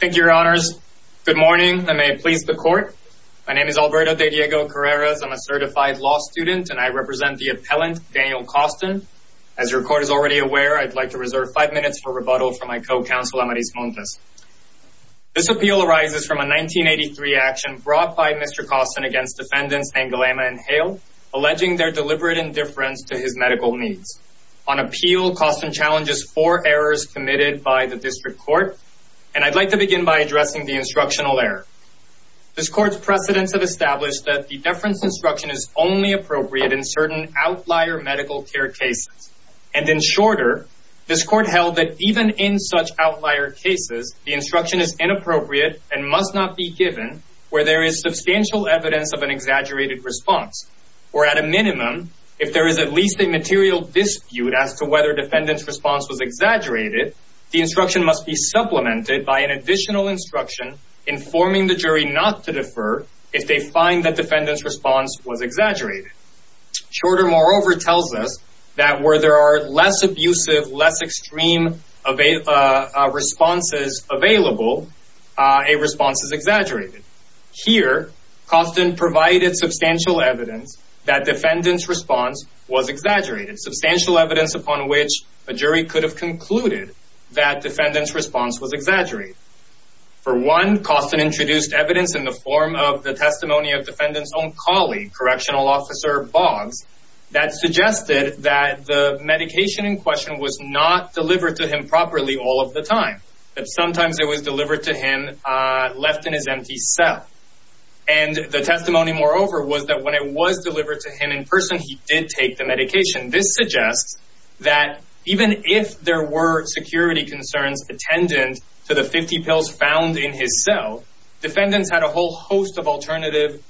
Thank you, your honors. Good morning. I may please the court. My name is Alberto de Diego Carreras. I'm a certified law student and I represent the appellant, Daniel Coston. As your court is already aware, I'd like to reserve five minutes for rebuttal from my co-counsel, Amaris Montes. This appeal arises from a 1983 action brought by Mr. Coston against defendants Nangalama and Hale, alleging their deliberate indifference to his medical needs. On appeal, Coston challenges four errors committed by the district court. I'd like to begin by addressing the instructional error. This court's precedents have established that the deference instruction is only appropriate in certain outlier medical care cases. In shorter, this court held that even in such outlier cases, the instruction is inappropriate and must not be given where there is substantial evidence of an exaggerated response, or at a minimum, if there is at least a material dispute as to whether defendant's response was exaggerated, the instruction must be supplemented by an additional instruction informing the jury not to defer if they find that defendant's response was exaggerated. Shorter, moreover, tells us that where there are less abusive, less extreme responses available, a response is exaggerated. Here, Coston provided substantial evidence that defendant's response was exaggerated, substantial evidence upon which a jury could have concluded that defendant's response was exaggerated. For one, Coston introduced evidence in the form of the testimony of defendant's own colleague, correctional officer Boggs, that suggested that the medication in question was not delivered to him properly all of the time, that sometimes it was delivered to him left in his empty cell. And the testimony, moreover, was that when it was delivered to him in person, he did take the medication. This suggests that even if there were security concerns attendant to the 50 pills found in his cell, defendants had a whole host of alternative,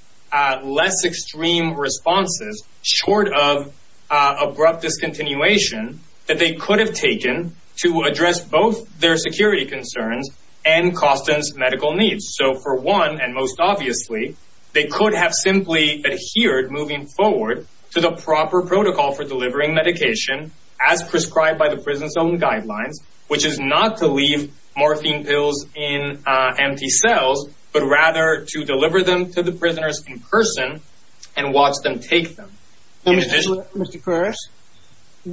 less extreme responses short of abrupt discontinuation that they could have taken to address both their security concerns and Coston's medical needs. So, for one, and most obviously, they could have simply adhered moving forward to the proper protocol for delivering medication as prescribed by the prison's own guidelines, which is not to leave morphine pills in empty cells, but rather to deliver them to the prisoners in person and watch them take them. Now, Mr. Carreras, it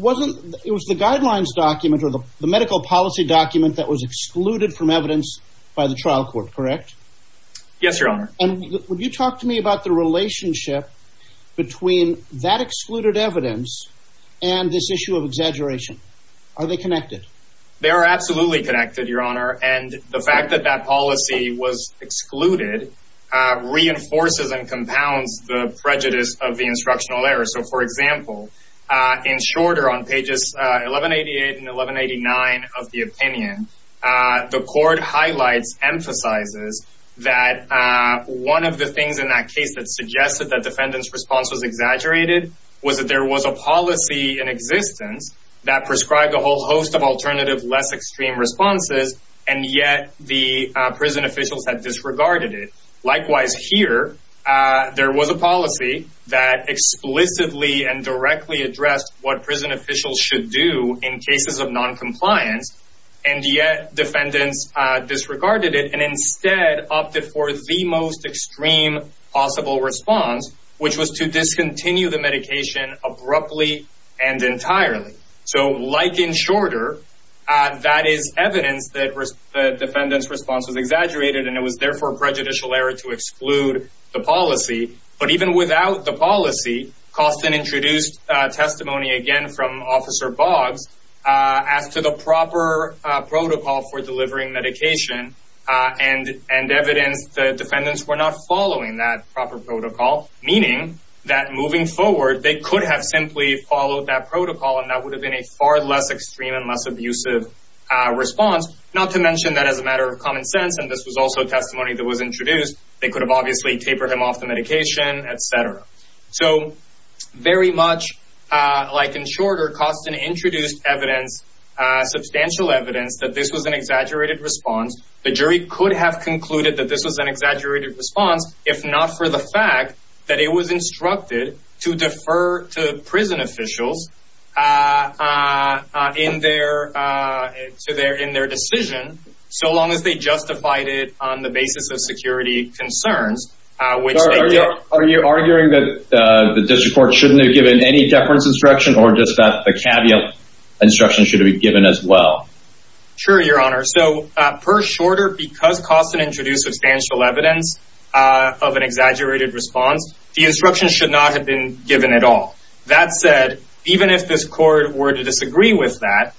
was the guidelines document or the medical policy document that was excluded from evidence by the trial court, correct? Yes, your honor. And would you talk to me about the relationship between that excluded evidence and this issue of exaggeration? Are they connected? They are absolutely connected, your honor. And the fact that that policy was excluded reinforces and compounds the prejudice of the instructional error. So, for example, in shorter on pages 1188 and 1189 of the opinion, the court highlights, emphasizes that one of the things in that case that suggested that defendant's response was exaggerated was that there was a policy in existence that prescribed a whole host of alternative, less extreme responses, and yet the prison officials had disregarded it. Likewise, here, there was a policy that explicitly and directly addressed what prison officials should do in cases of non-compliance, and yet defendants disregarded it and instead opted for the most extreme possible response, which was to discontinue the medication abruptly and entirely. So, like in shorter, that is evidence that the defendant's response was exaggerated and it was therefore prejudicial error to exclude the policy. But even without the policy, Costin introduced testimony again from Officer Boggs as to the proper protocol for delivering medication and evidence the defendants were not following that proper protocol, meaning that moving forward, they could have simply followed that protocol and that would have been a far less extreme and less abusive response. Not to mention that as a matter of common sense, and this was also testimony that was introduced, they could have obviously tapered him off the medication, etc. So, very much like in shorter, Costin introduced evidence, substantial evidence, that this was an exaggerated response. The jury could have concluded that this was an exaggerated response if not for the fact that it was instructed to defer to prison officials in their decision, so long as they justified it on the basis of security concerns, which they did. Are you arguing that the district court shouldn't have given any deference instruction or just that the caveat instruction should be given as well? Sure, your honor. So, per shorter, because Costin introduced substantial evidence of an exaggerated response, the instruction should not have been given at all. That said, even if this court were to disagree with that,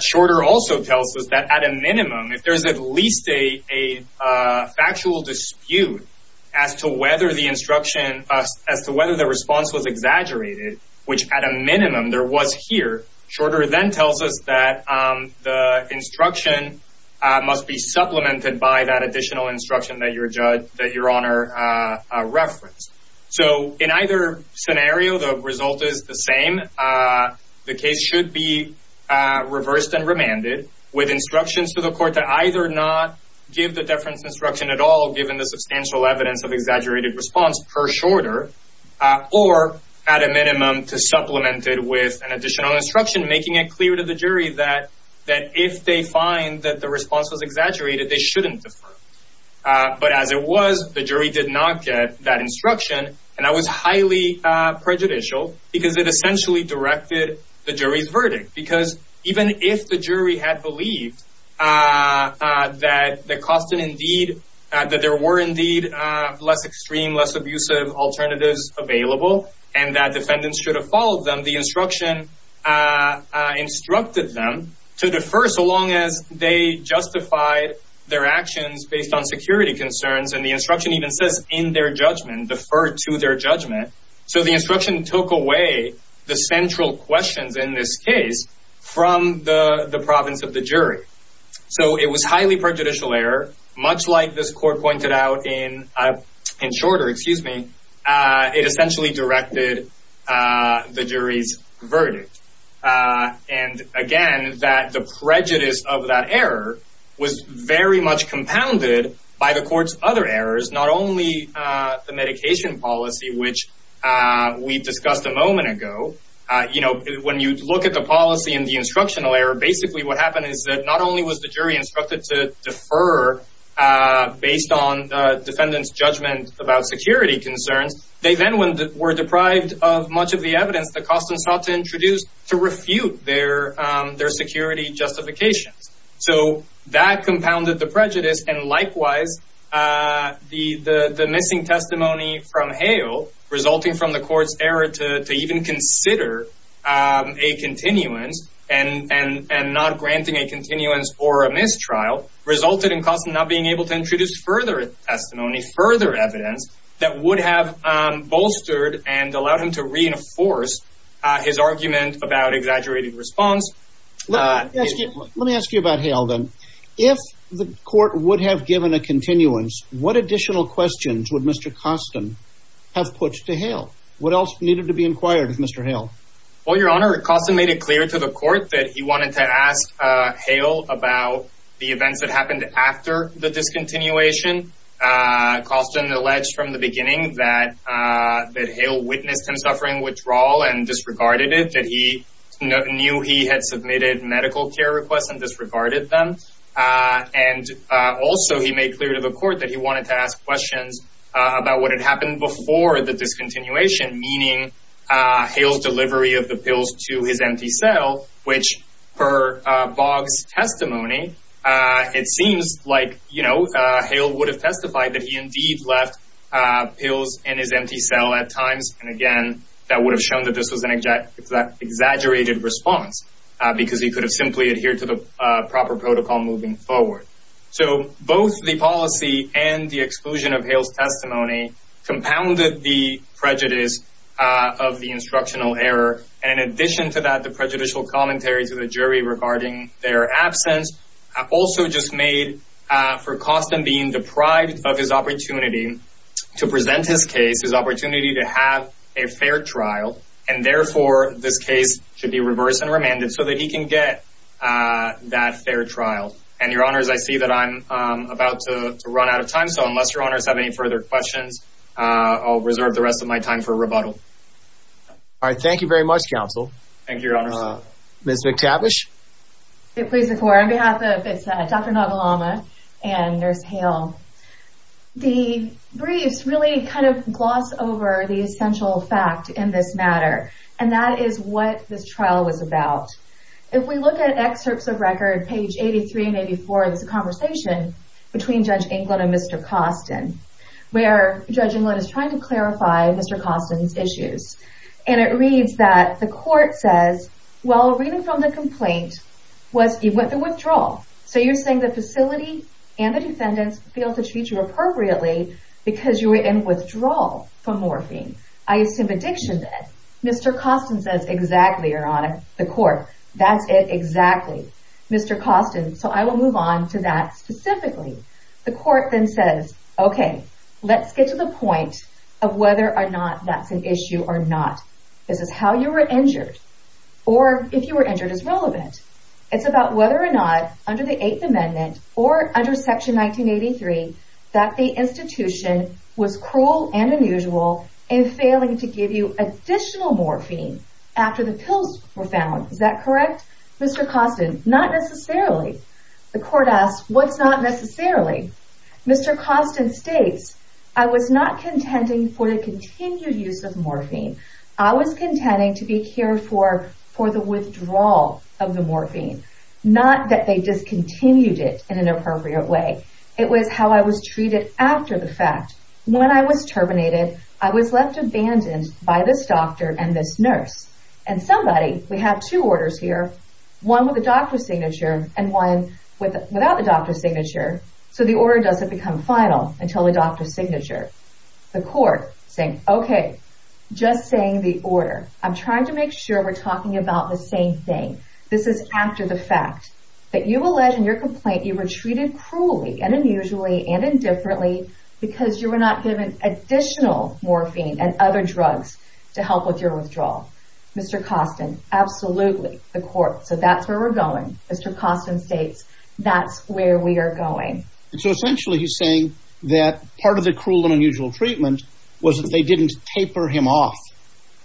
shorter also tells us that at a minimum, if there's at least a factual dispute as to whether the instruction, as to whether the response was exaggerated, which at a minimum there was here, shorter then tells us that the instruction must be supplemented by that additional instruction that your honor referenced. So, in either scenario, the result is the same. The case should be reversed and remanded with instructions to the court to either not give the deference instruction at all, given the substantial evidence of exaggerated response per shorter, or at a minimum to supplement it with an additional instruction, making it clear to the jury that if they find that the response was exaggerated, they shouldn't defer. But as it was, the jury did not get that instruction and that was highly prejudicial because it essentially directed the jury's belief that there were indeed less extreme, less abusive alternatives available and that defendants should have followed them. The instruction instructed them to defer so long as they justified their actions based on security concerns and the instruction even says in their judgment, defer to their judgment. So the instruction took away the central questions in this case from the province of the jury. So it was highly prejudicial error, much like this court pointed out in shorter, excuse me, it essentially directed the jury's verdict. And again, that the prejudice of that error was very much compounded by the court's other errors, not only the medication policy, which we discussed a moment ago. You know, when you look at the policy and the instructional error, basically what happened is that not only was the jury instructed to defer based on defendant's judgment about security concerns, they then were deprived of much of the evidence that Costin sought to introduce to refute their security justifications. So that compounded the prejudice and likewise the missing testimony from Hale resulting from the court's error to even consider a continuance and not granting a continuance or a mistrial resulted in Costin not being able to introduce further testimony, further evidence that would have bolstered and allowed him to reinforce his argument about exaggerated response. Let me ask you about Hale then. If the court would have given a continuance, what additional questions would Mr. Costin have put to Hale? What else needed to be inquired of Mr. Hale? Well, your honor, Costin made it clear to the court that he wanted to ask Hale about the events that happened after the discontinuation. Costin alleged from the beginning that Hale witnessed him suffering withdrawal and disregarded it, that he knew he had submitted medical care requests and disregarded them. And also he made clear to the court that he wanted to ask questions about what had happened before the discontinuation, meaning Hale's delivery of the pills to his empty cell, which per Bogg's testimony, it seems like, you know, Hale would have testified that he indeed left pills in his empty cell at times. And again, that would have shown that this was an exaggerated response because he could have simply adhered to the proper protocol moving forward. So both the policy and the exclusion of Hale's testimony compounded the prejudice of the instructional error. And in addition to that, the prejudicial commentary to the jury regarding their absence also just made for Costin being deprived of his opportunity to present his case, his opportunity to have a fair trial, and therefore this case should be reversed and remanded so that he can get that fair trial. And your honors, I see that I'm about to run out of time. So unless your honors have any further questions, I'll reserve the rest of my time for rebuttal. All right, thank you very much, counsel. Thank you, your honors. Ms. McTavish? It pleases the court. On behalf of Dr. Nagelama and Nurse Hale, the briefs really kind of gloss over the essential fact in this matter, and that is what this trial was about. If we look at excerpts of record page 83 and 84, there's a conversation between Judge England and Mr. Costin where Judge And it reads that the court says, well, reading from the complaint, you went through withdrawal. So you're saying the facility and the defendants failed to treat you appropriately because you were in withdrawal from morphine. I assume addiction did. Mr. Costin says, exactly, your honor, the court, that's it, exactly. Mr. Costin, so I will move on to that specifically. The court then says, okay, let's get to the point of whether or not that's an issue or not. This is how you were injured, or if you were injured is relevant. It's about whether or not under the eighth amendment or under section 1983, that the institution was cruel and unusual in failing to give you additional morphine after the pills were found. Is that correct? Mr. Costin, not necessarily. The court asks, what's not necessarily? Mr. Costin states, I was not contending for the continued use of morphine. I was contending to be cared for, for the withdrawal of the morphine, not that they discontinued it in an appropriate way. It was how I was treated after the fact. When I was terminated, I was left abandoned by this doctor and this nurse and somebody, we have two orders here, one with a doctor's signature and one without the doctor's signature. So the order doesn't become final until the doctor's signature. The court saying, okay, just saying the order. I'm trying to make sure we're talking about the same thing. This is after the fact that you alleged in your complaint, you were treated cruelly and unusually and indifferently because you were not given additional morphine and other drugs to help with your withdrawal. Mr. Costin, absolutely. The court, so that's where we're going. Mr. That's where we are going. And so essentially he's saying that part of the cruel and unusual treatment was that they didn't taper him off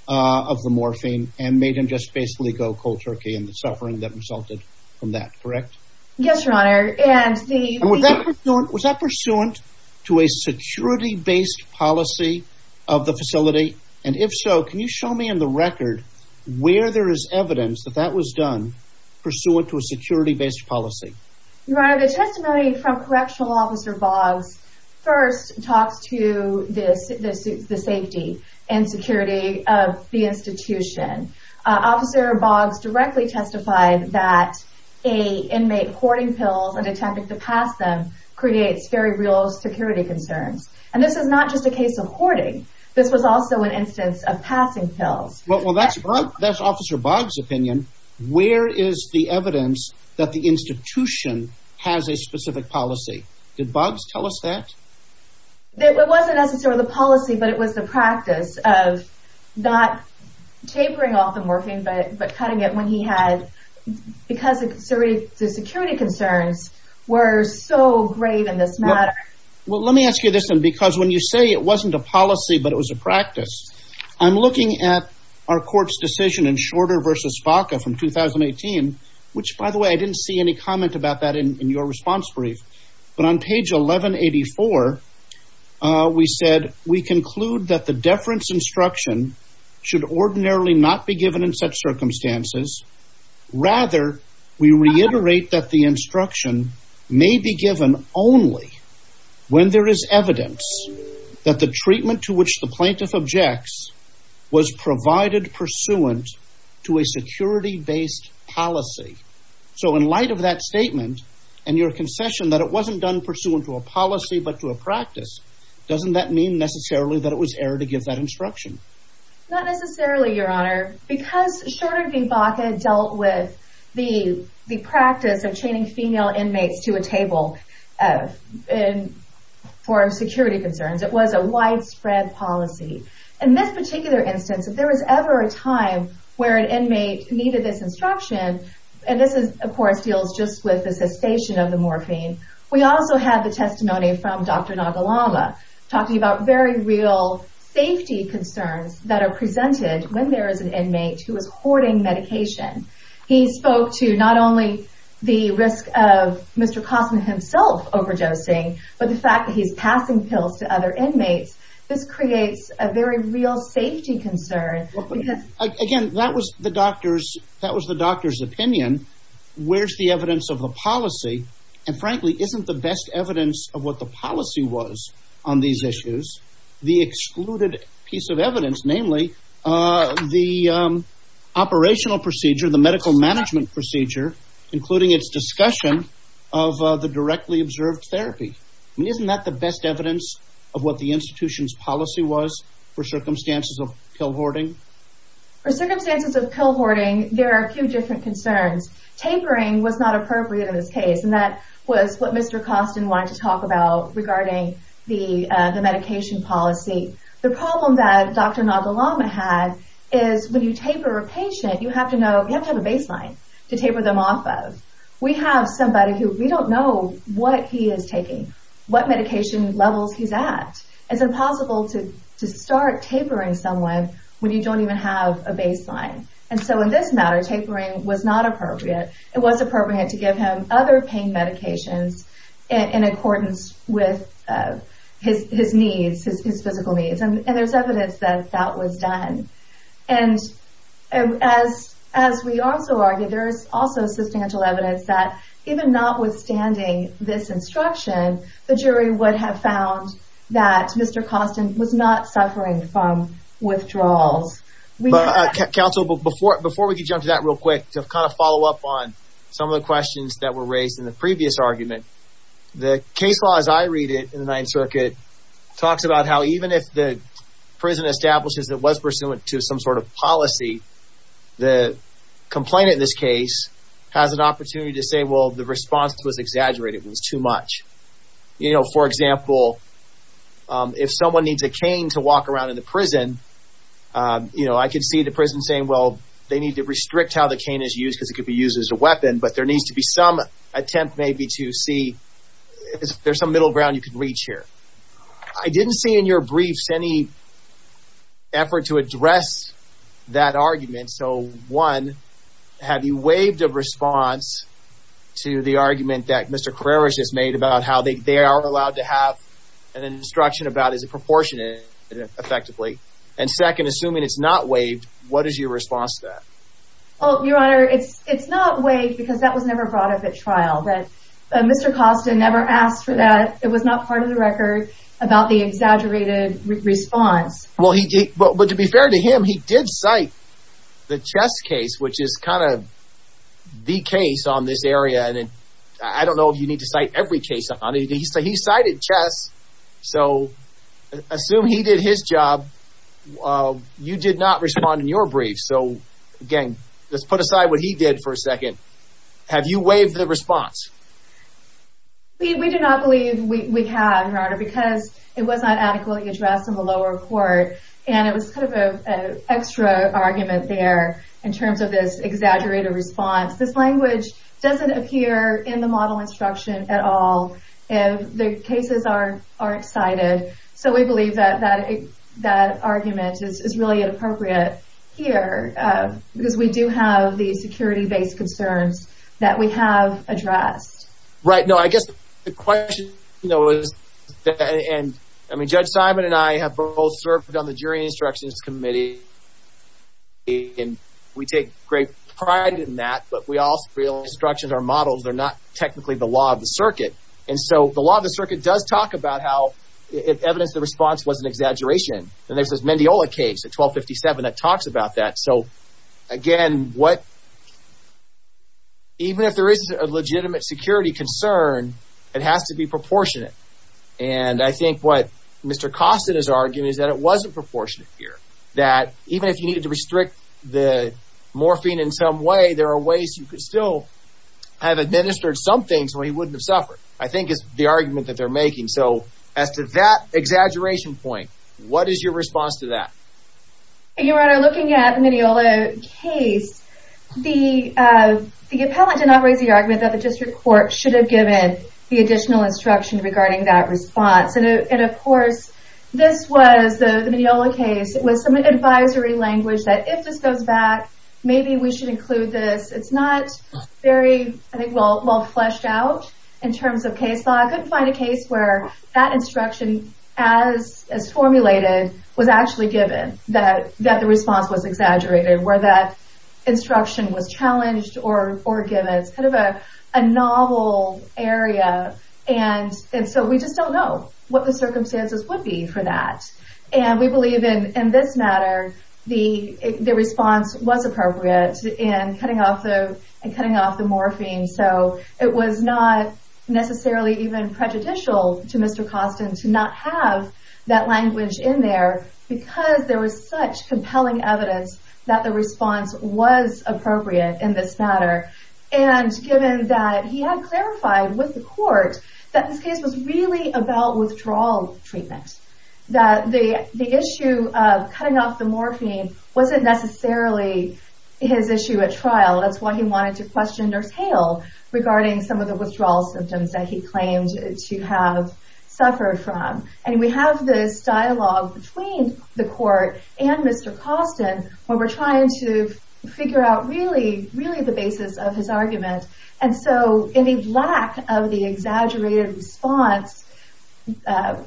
of the morphine and made him just basically go cold turkey and the suffering that resulted from that, correct? Yes, your honor. And was that pursuant to a security based policy of the facility? And if so, can you show me in the record where there is evidence that that was done pursuant to a security based policy? Your honor, the testimony from correctional officer Boggs first talks to this, the safety and security of the institution. Officer Boggs directly testified that a inmate hoarding pills and attempting to pass them creates very real security concerns. And this is not just a case of hoarding. This was also an instance of passing pills. Well, that's, that's officer Boggs opinion. Where is the evidence that the institution has a specific policy? Did Boggs tell us that? It wasn't necessarily the policy, but it was the practice of not tapering off the morphine, but cutting it when he had, because the security concerns were so grave in this matter. Well, let me ask you this then, because when you say it wasn't a policy, but it was a practice, I'm looking at our court's decision in Shorter versus FACA from 2018, which by the way, I didn't see any comment about that in your response brief, but on page 1184, we said, we conclude that the deference instruction should ordinarily not be given in such circumstances. Rather, we reiterate that the instruction may be given only when there is evidence that the treatment to which the plaintiff objects was provided pursuant to a security based policy. So in light of that statement and your concession that it wasn't done pursuant to a policy, but to a practice, doesn't that mean necessarily that it was error to give that instruction? Not necessarily, your honor, because Shorter dealt with the practice of chaining female inmates to a table for security concerns. It was a widespread policy. In this particular instance, if there was ever a time where an inmate needed this instruction, and this of course deals just with the cessation of the morphine, we also have the testimony from Dr. Nagalanga talking about very real safety concerns that are presented when there is an inmate who is hoarding medication. He spoke to not only the risk of Mr. Kosman himself overdosing, but the fact that he's passing pills to other inmates. This creates a very real safety concern. Again, that was the doctor's opinion. Where's the evidence of the policy? And frankly, isn't the best evidence of what the policy was on these issues, the excluded piece of evidence, namely the operational procedure, the medical management procedure, including its discussion of the directly observed therapy? I mean, isn't that the best evidence of what the institution's policy was for circumstances of pill hoarding? For circumstances of pill hoarding, there are a few different concerns. Tampering was not appropriate in this case, and that was what Mr. Koston wanted to talk about regarding the medication policy. The problem that Dr. Nagalanga had is when you taper a patient, you have to have a baseline to taper them off of. We have somebody who we don't know what he is taking, what medication levels he's at. It's impossible to start tapering someone when you don't even have a baseline. In this matter, tapering was not appropriate. It was appropriate to give him other pain medications in accordance with his needs, his physical needs. And there's evidence that that was done. And as we also argue, there is also substantial evidence that even notwithstanding this instruction, the jury would have found that Mr. Koston was not suffering from withdrawals. Counsel, before we jump to that real quick, to kind of follow up on some of the questions that were raised in the previous argument, the case law as I read it in the Ninth Circuit talks about how even if the prison establishes that it was pursuant to some sort of policy, the complainant in this case has an opportunity to say, well, the response was exaggerated, it was too much. For example, if someone needs a cane to walk around in the prison, I could see the prison saying, well, they need to restrict how the cane is used because it could be an attempt maybe to see if there's some middle ground you could reach here. I didn't see in your briefs any effort to address that argument. So one, have you waived a response to the argument that Mr. Karerish has made about how they are allowed to have an instruction about is it proportionate effectively? And second, assuming it's not waived, what is your response to that? Your Honor, it's not waived because that was never brought up at trial, but Mr. Costin never asked for that. It was not part of the record about the exaggerated response. But to be fair to him, he did cite the chess case, which is kind of the case on this area. And I don't know if you need to cite every case on it. He cited chess. So assume he did his job. Well, you did not respond in your brief. So again, let's put aside what he did for a second. Have you waived the response? We do not believe we have, Your Honor, because it was not adequately addressed in the lower court. And it was kind of an extra argument there in terms of this exaggerated response. This language doesn't appear in the model instruction at all. And the cases aren't cited. So we believe that that argument is really inappropriate here because we do have the security-based concerns that we have addressed. Right. No, I guess the question, you know, and I mean, Judge Simon and I have both served on the Jury Instructions Committee. And we take great pride in that. But we also feel instructions are models. They're not technically the law of the circuit. And so the law of the circuit does talk about how it evidenced the response was an exaggeration. And there's this Mendiola case at 1257 that talks about that. So again, even if there is a legitimate security concern, it has to be proportionate. And I think what Mr. Kostin is arguing is that it wasn't proportionate here, that even if you needed to restrict the morphine in some way, there are ways you could have administered something so he wouldn't have suffered. I think it's the argument that they're making. So as to that exaggeration point, what is your response to that? Your Honor, looking at the Mendiola case, the appellant did not raise the argument that the district court should have given the additional instruction regarding that response. And of course, this was the Mendiola case. It was advisory language that if this goes back, maybe we should include this. It's not very well fleshed out in terms of case law. I couldn't find a case where that instruction as formulated was actually given, that the response was exaggerated, where that instruction was challenged or given. It's kind of a novel area. And so we just don't know what the circumstances would be for that. And we believe in this matter, the response was appropriate in cutting off the morphine. So it was not necessarily even prejudicial to Mr. Kostin to not have that language in there, because there was such compelling evidence that the response was appropriate in this matter. And given that he had clarified with the court that this case was really about withdrawal treatment, that the issue of cutting off the morphine wasn't necessarily his issue at trial. That's why he wanted to question Nurse Hale regarding some of the withdrawal symptoms that he claimed to have suffered from. And we have this dialogue between the court and Mr. Kostin, where we're trying to figure out really, really the basis of his argument. And so any lack of exaggerated response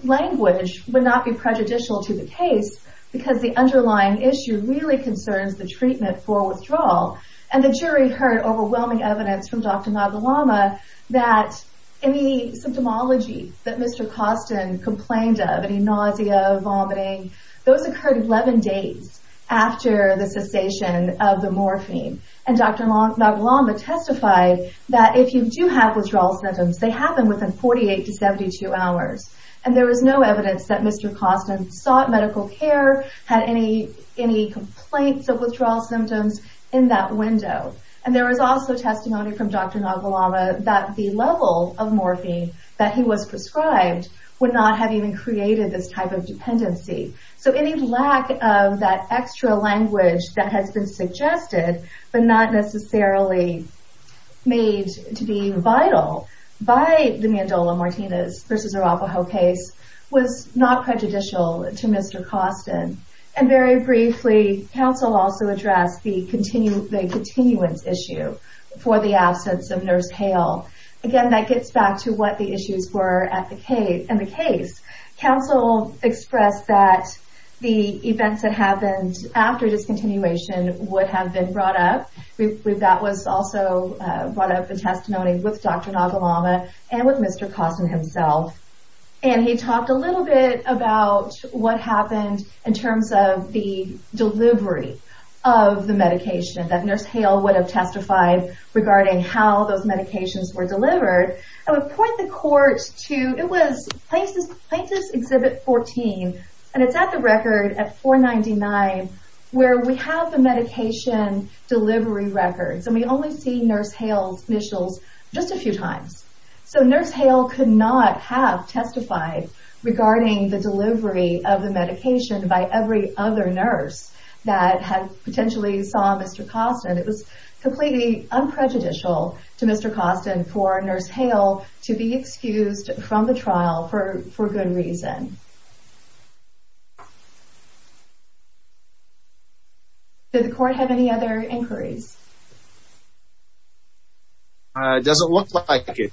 language would not be prejudicial to the case, because the underlying issue really concerns the treatment for withdrawal. And the jury heard overwhelming evidence from Dr. Nagelama that any symptomology that Mr. Kostin complained of, any nausea, vomiting, those occurred 11 days after the cessation of the morphine. And Dr. Nagelama testified that if you do have withdrawal symptoms, they happen within 48 to 72 hours. And there was no evidence that Mr. Kostin sought medical care, had any complaints of withdrawal symptoms in that window. And there was also testimony from Dr. Nagelama that the level of morphine that he was prescribed would not have even created this type of dependency. So any lack of that extra language that has been suggested, but not necessarily made to be vital by the Mandola-Martinez v. Arapahoe case was not prejudicial to Mr. Kostin. And very briefly, counsel also addressed the continuance issue for the absence of Nurse Hale. Again, that gets back to what the issues were in the case. Counsel expressed that the events that happened after discontinuation would have been brought up. That was also brought up in testimony with Dr. Nagelama and with Mr. Kostin himself. And he talked a little bit about what happened in terms of the delivery of the medication that Nurse Hale would have testified regarding how those medications were delivered. I would point the court to, it was Plaintiff's Exhibit 14, and it's at the record at 499, where we have the medication delivery records. And we only see Nurse Hale's initials just a few times. So Nurse Hale could not have testified regarding the delivery of the medication by every other nurse that had potentially saw Mr. Kostin. It was completely unprejudicial to Mr. Kostin for to be excused from the trial for good reason. Did the court have any other inquiries? It doesn't look like it.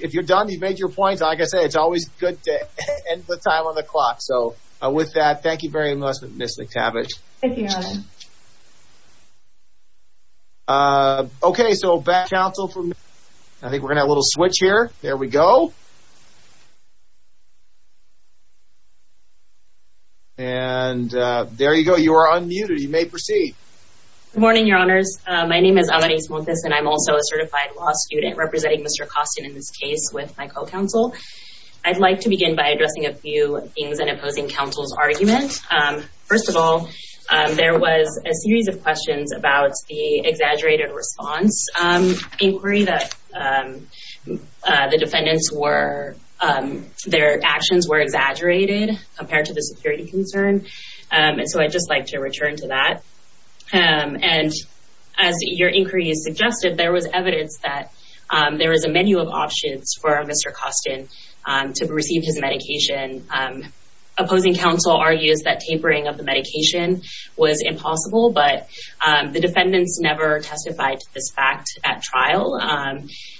If you're done, you've made your point. Like I said, it's always good to end the time on the clock. So with that, thank you very much, Ms. McTavish. Thank you, Your Honor. Okay, so back to counsel. I think we're going to have a little switch here. There we go. And there you go. You are unmuted. You may proceed. Good morning, Your Honors. My name is Amanice Montes, and I'm also a certified law student representing Mr. Kostin in this case with my co-counsel. I'd like to begin by addressing a few things in opposing counsel's argument. First of all, there was a series of questions about the exaggerated response inquiry that the defendants were, their actions were exaggerated compared to the security concern. And so I'd just like to return to that. And as your inquiry suggested, there was evidence that there was a menu of options for Mr. Kostin to receive his medication. Opposing counsel argues that tapering of the medication was impossible, but the defendants never testified to this fact at trial.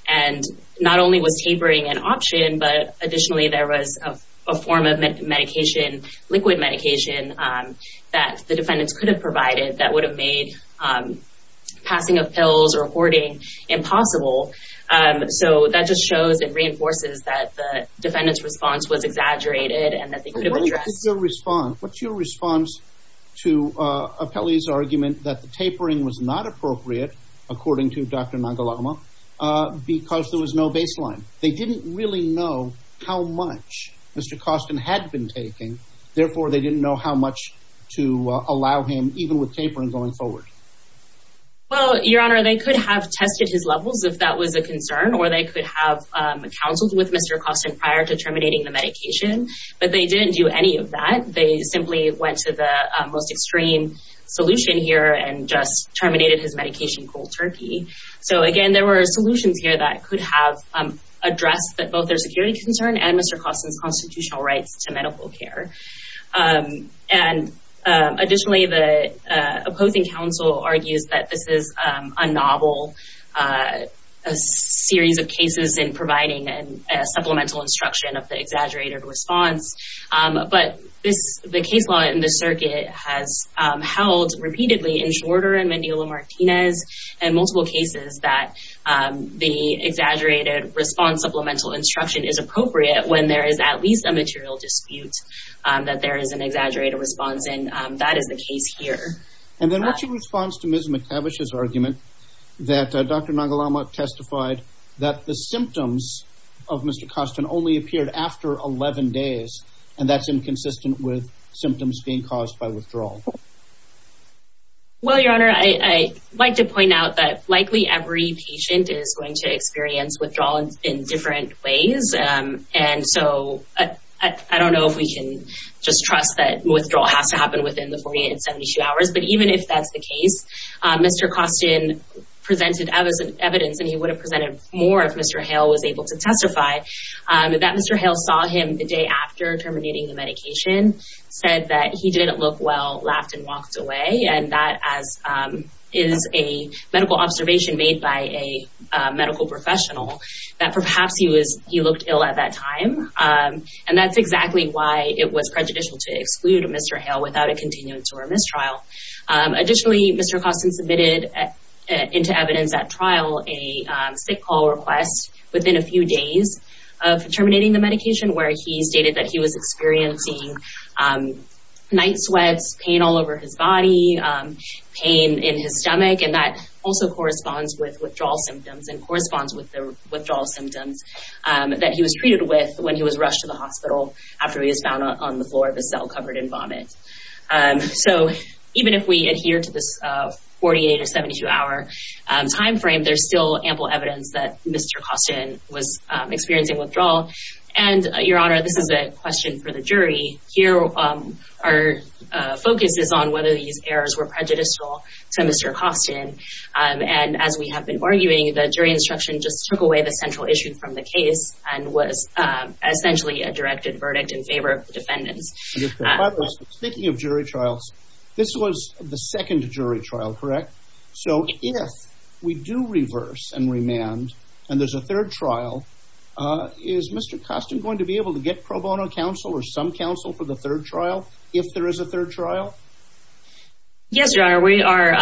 And not only was tapering an option, but additionally, there was a form of medication, liquid medication, that the defendants could have provided that would have made passing of pills or hoarding impossible. So that just shows and reinforces that the defendant's response was exaggerated and that they could have addressed. What's your response to Apelli's argument that the tapering was not appropriate, according to Dr. Nagelama, because there was no baseline? They didn't really know how much Mr. Kostin had been taking. Therefore, they didn't know how much to allow him, even with tapering, going forward. Well, Your Honor, they could have tested his levels if that was a concern, or they could have counseled with Mr. Kostin prior to terminating the medication, but they didn't do any of that. They simply went to the most extreme solution here and just terminated his medication cold turkey. So again, there were solutions here that could have addressed both their security concern and Mr. Kostin's constitutional rights to medical care. Additionally, the opposing counsel argues that this is a novel series of cases in providing a supplemental instruction of the exaggerated response. But the case law in this circuit has held repeatedly in Shorter and Mendiola-Martinez and multiple cases that the exaggerated response supplemental instruction is appropriate when there is at least a material dispute that there is an exaggerated response, and that is the case here. And then what's your response to Ms. McCavish's argument that Dr. Nagelama testified that the symptoms of Mr. Kostin only appeared after 11 days, and that's inconsistent with symptoms being caused by withdrawal? Well, Your Honor, I'd like to point out that likely every patient is going to experience withdrawal in different ways. And so I don't know if we can just trust that withdrawal has to happen within the 48 and 72 hours, but even if that's the case, Mr. Kostin presented evidence and he would have presented more if Mr. Hale was able to testify that Mr. Hale saw him the day after terminating the medication, said that he didn't look well, laughed and walked away. And that is a medical observation made by a medical professional that perhaps he looked ill at that time. And that's exactly why it was prejudicial to exclude Mr. Hale without a continued mistrial. Additionally, Mr. Kostin submitted into evidence at trial a sick call request within a few days of terminating the medication where he stated that was experiencing night sweats, pain all over his body, pain in his stomach. And that also corresponds with withdrawal symptoms and corresponds with the withdrawal symptoms that he was treated with when he was rushed to the hospital after he was found on the floor of a cell covered in vomit. So even if we adhere to this 48 or 72 hour time frame, there's still ample evidence that Mr. for the jury. Here our focus is on whether these errors were prejudicial to Mr. Kostin. And as we have been arguing, the jury instruction just took away the central issue from the case and was essentially a directed verdict in favor of the defendants. Speaking of jury trials, this was the second jury trial, correct? So if we do reverse and some counsel for the third trial, if there is a third trial? Yes, your honor, we are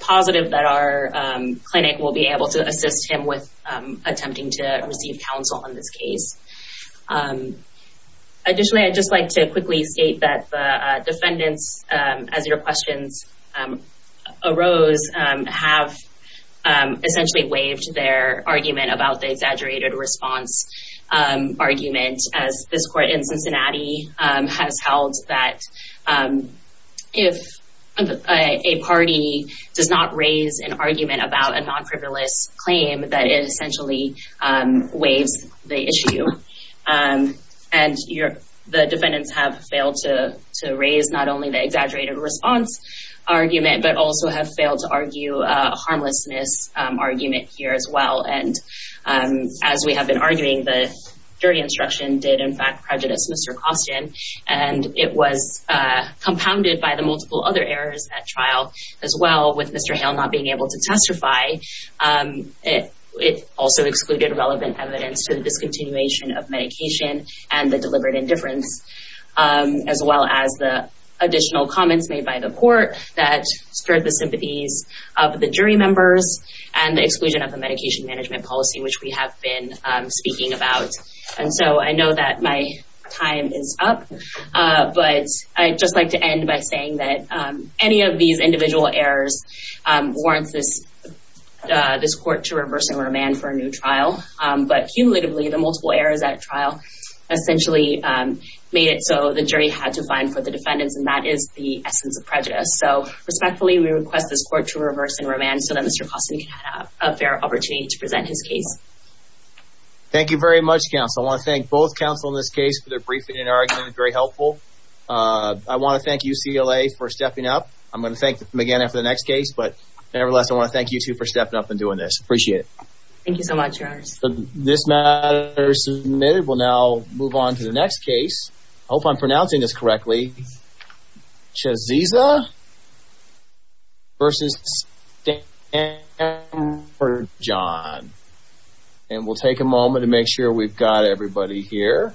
positive that our clinic will be able to assist him with attempting to receive counsel on this case. Additionally, I'd just like to quickly state that the defendants, as your questions arose, have essentially waived their argument about the exaggerated response argument, as this court in Cincinnati has held that if a party does not raise an argument about a non-frivolous claim, that it essentially waives the issue. And the defendants have failed to raise not only the exaggerated response argument, but also have failed to argue a harmlessness argument here as well. And as we have been arguing, the jury instruction did, in fact, prejudice Mr. Kostin, and it was compounded by the multiple other errors at trial as well, with Mr. Hale not being able to testify. It also excluded relevant evidence to the discontinuation of medication and the deliberate indifference, as well as the additional comments made by the court that stirred the sympathies of the jury members and the exclusion of the medication management policy, which we have been speaking about. And so I know that my time is up, but I'd just like to end by saying that any of these individual errors warrant this court to reverse and remand for a new trial. But cumulatively, the multiple errors at trial essentially made it so the jury had to prejudice. So respectfully, we request this court to reverse and remand so that Mr. Kostin can have a fair opportunity to present his case. Thank you very much, counsel. I want to thank both counsel in this case for their briefing and argument, very helpful. I want to thank UCLA for stepping up. I'm going to thank McGannon for the next case, but nevertheless, I want to thank you two for stepping up and doing this. Appreciate it. Thank you so much, your honors. This matter is now move on to the next case. I hope I'm pronouncing this correctly. Shaziza versus John. And we'll take a moment to make sure we've got everybody here.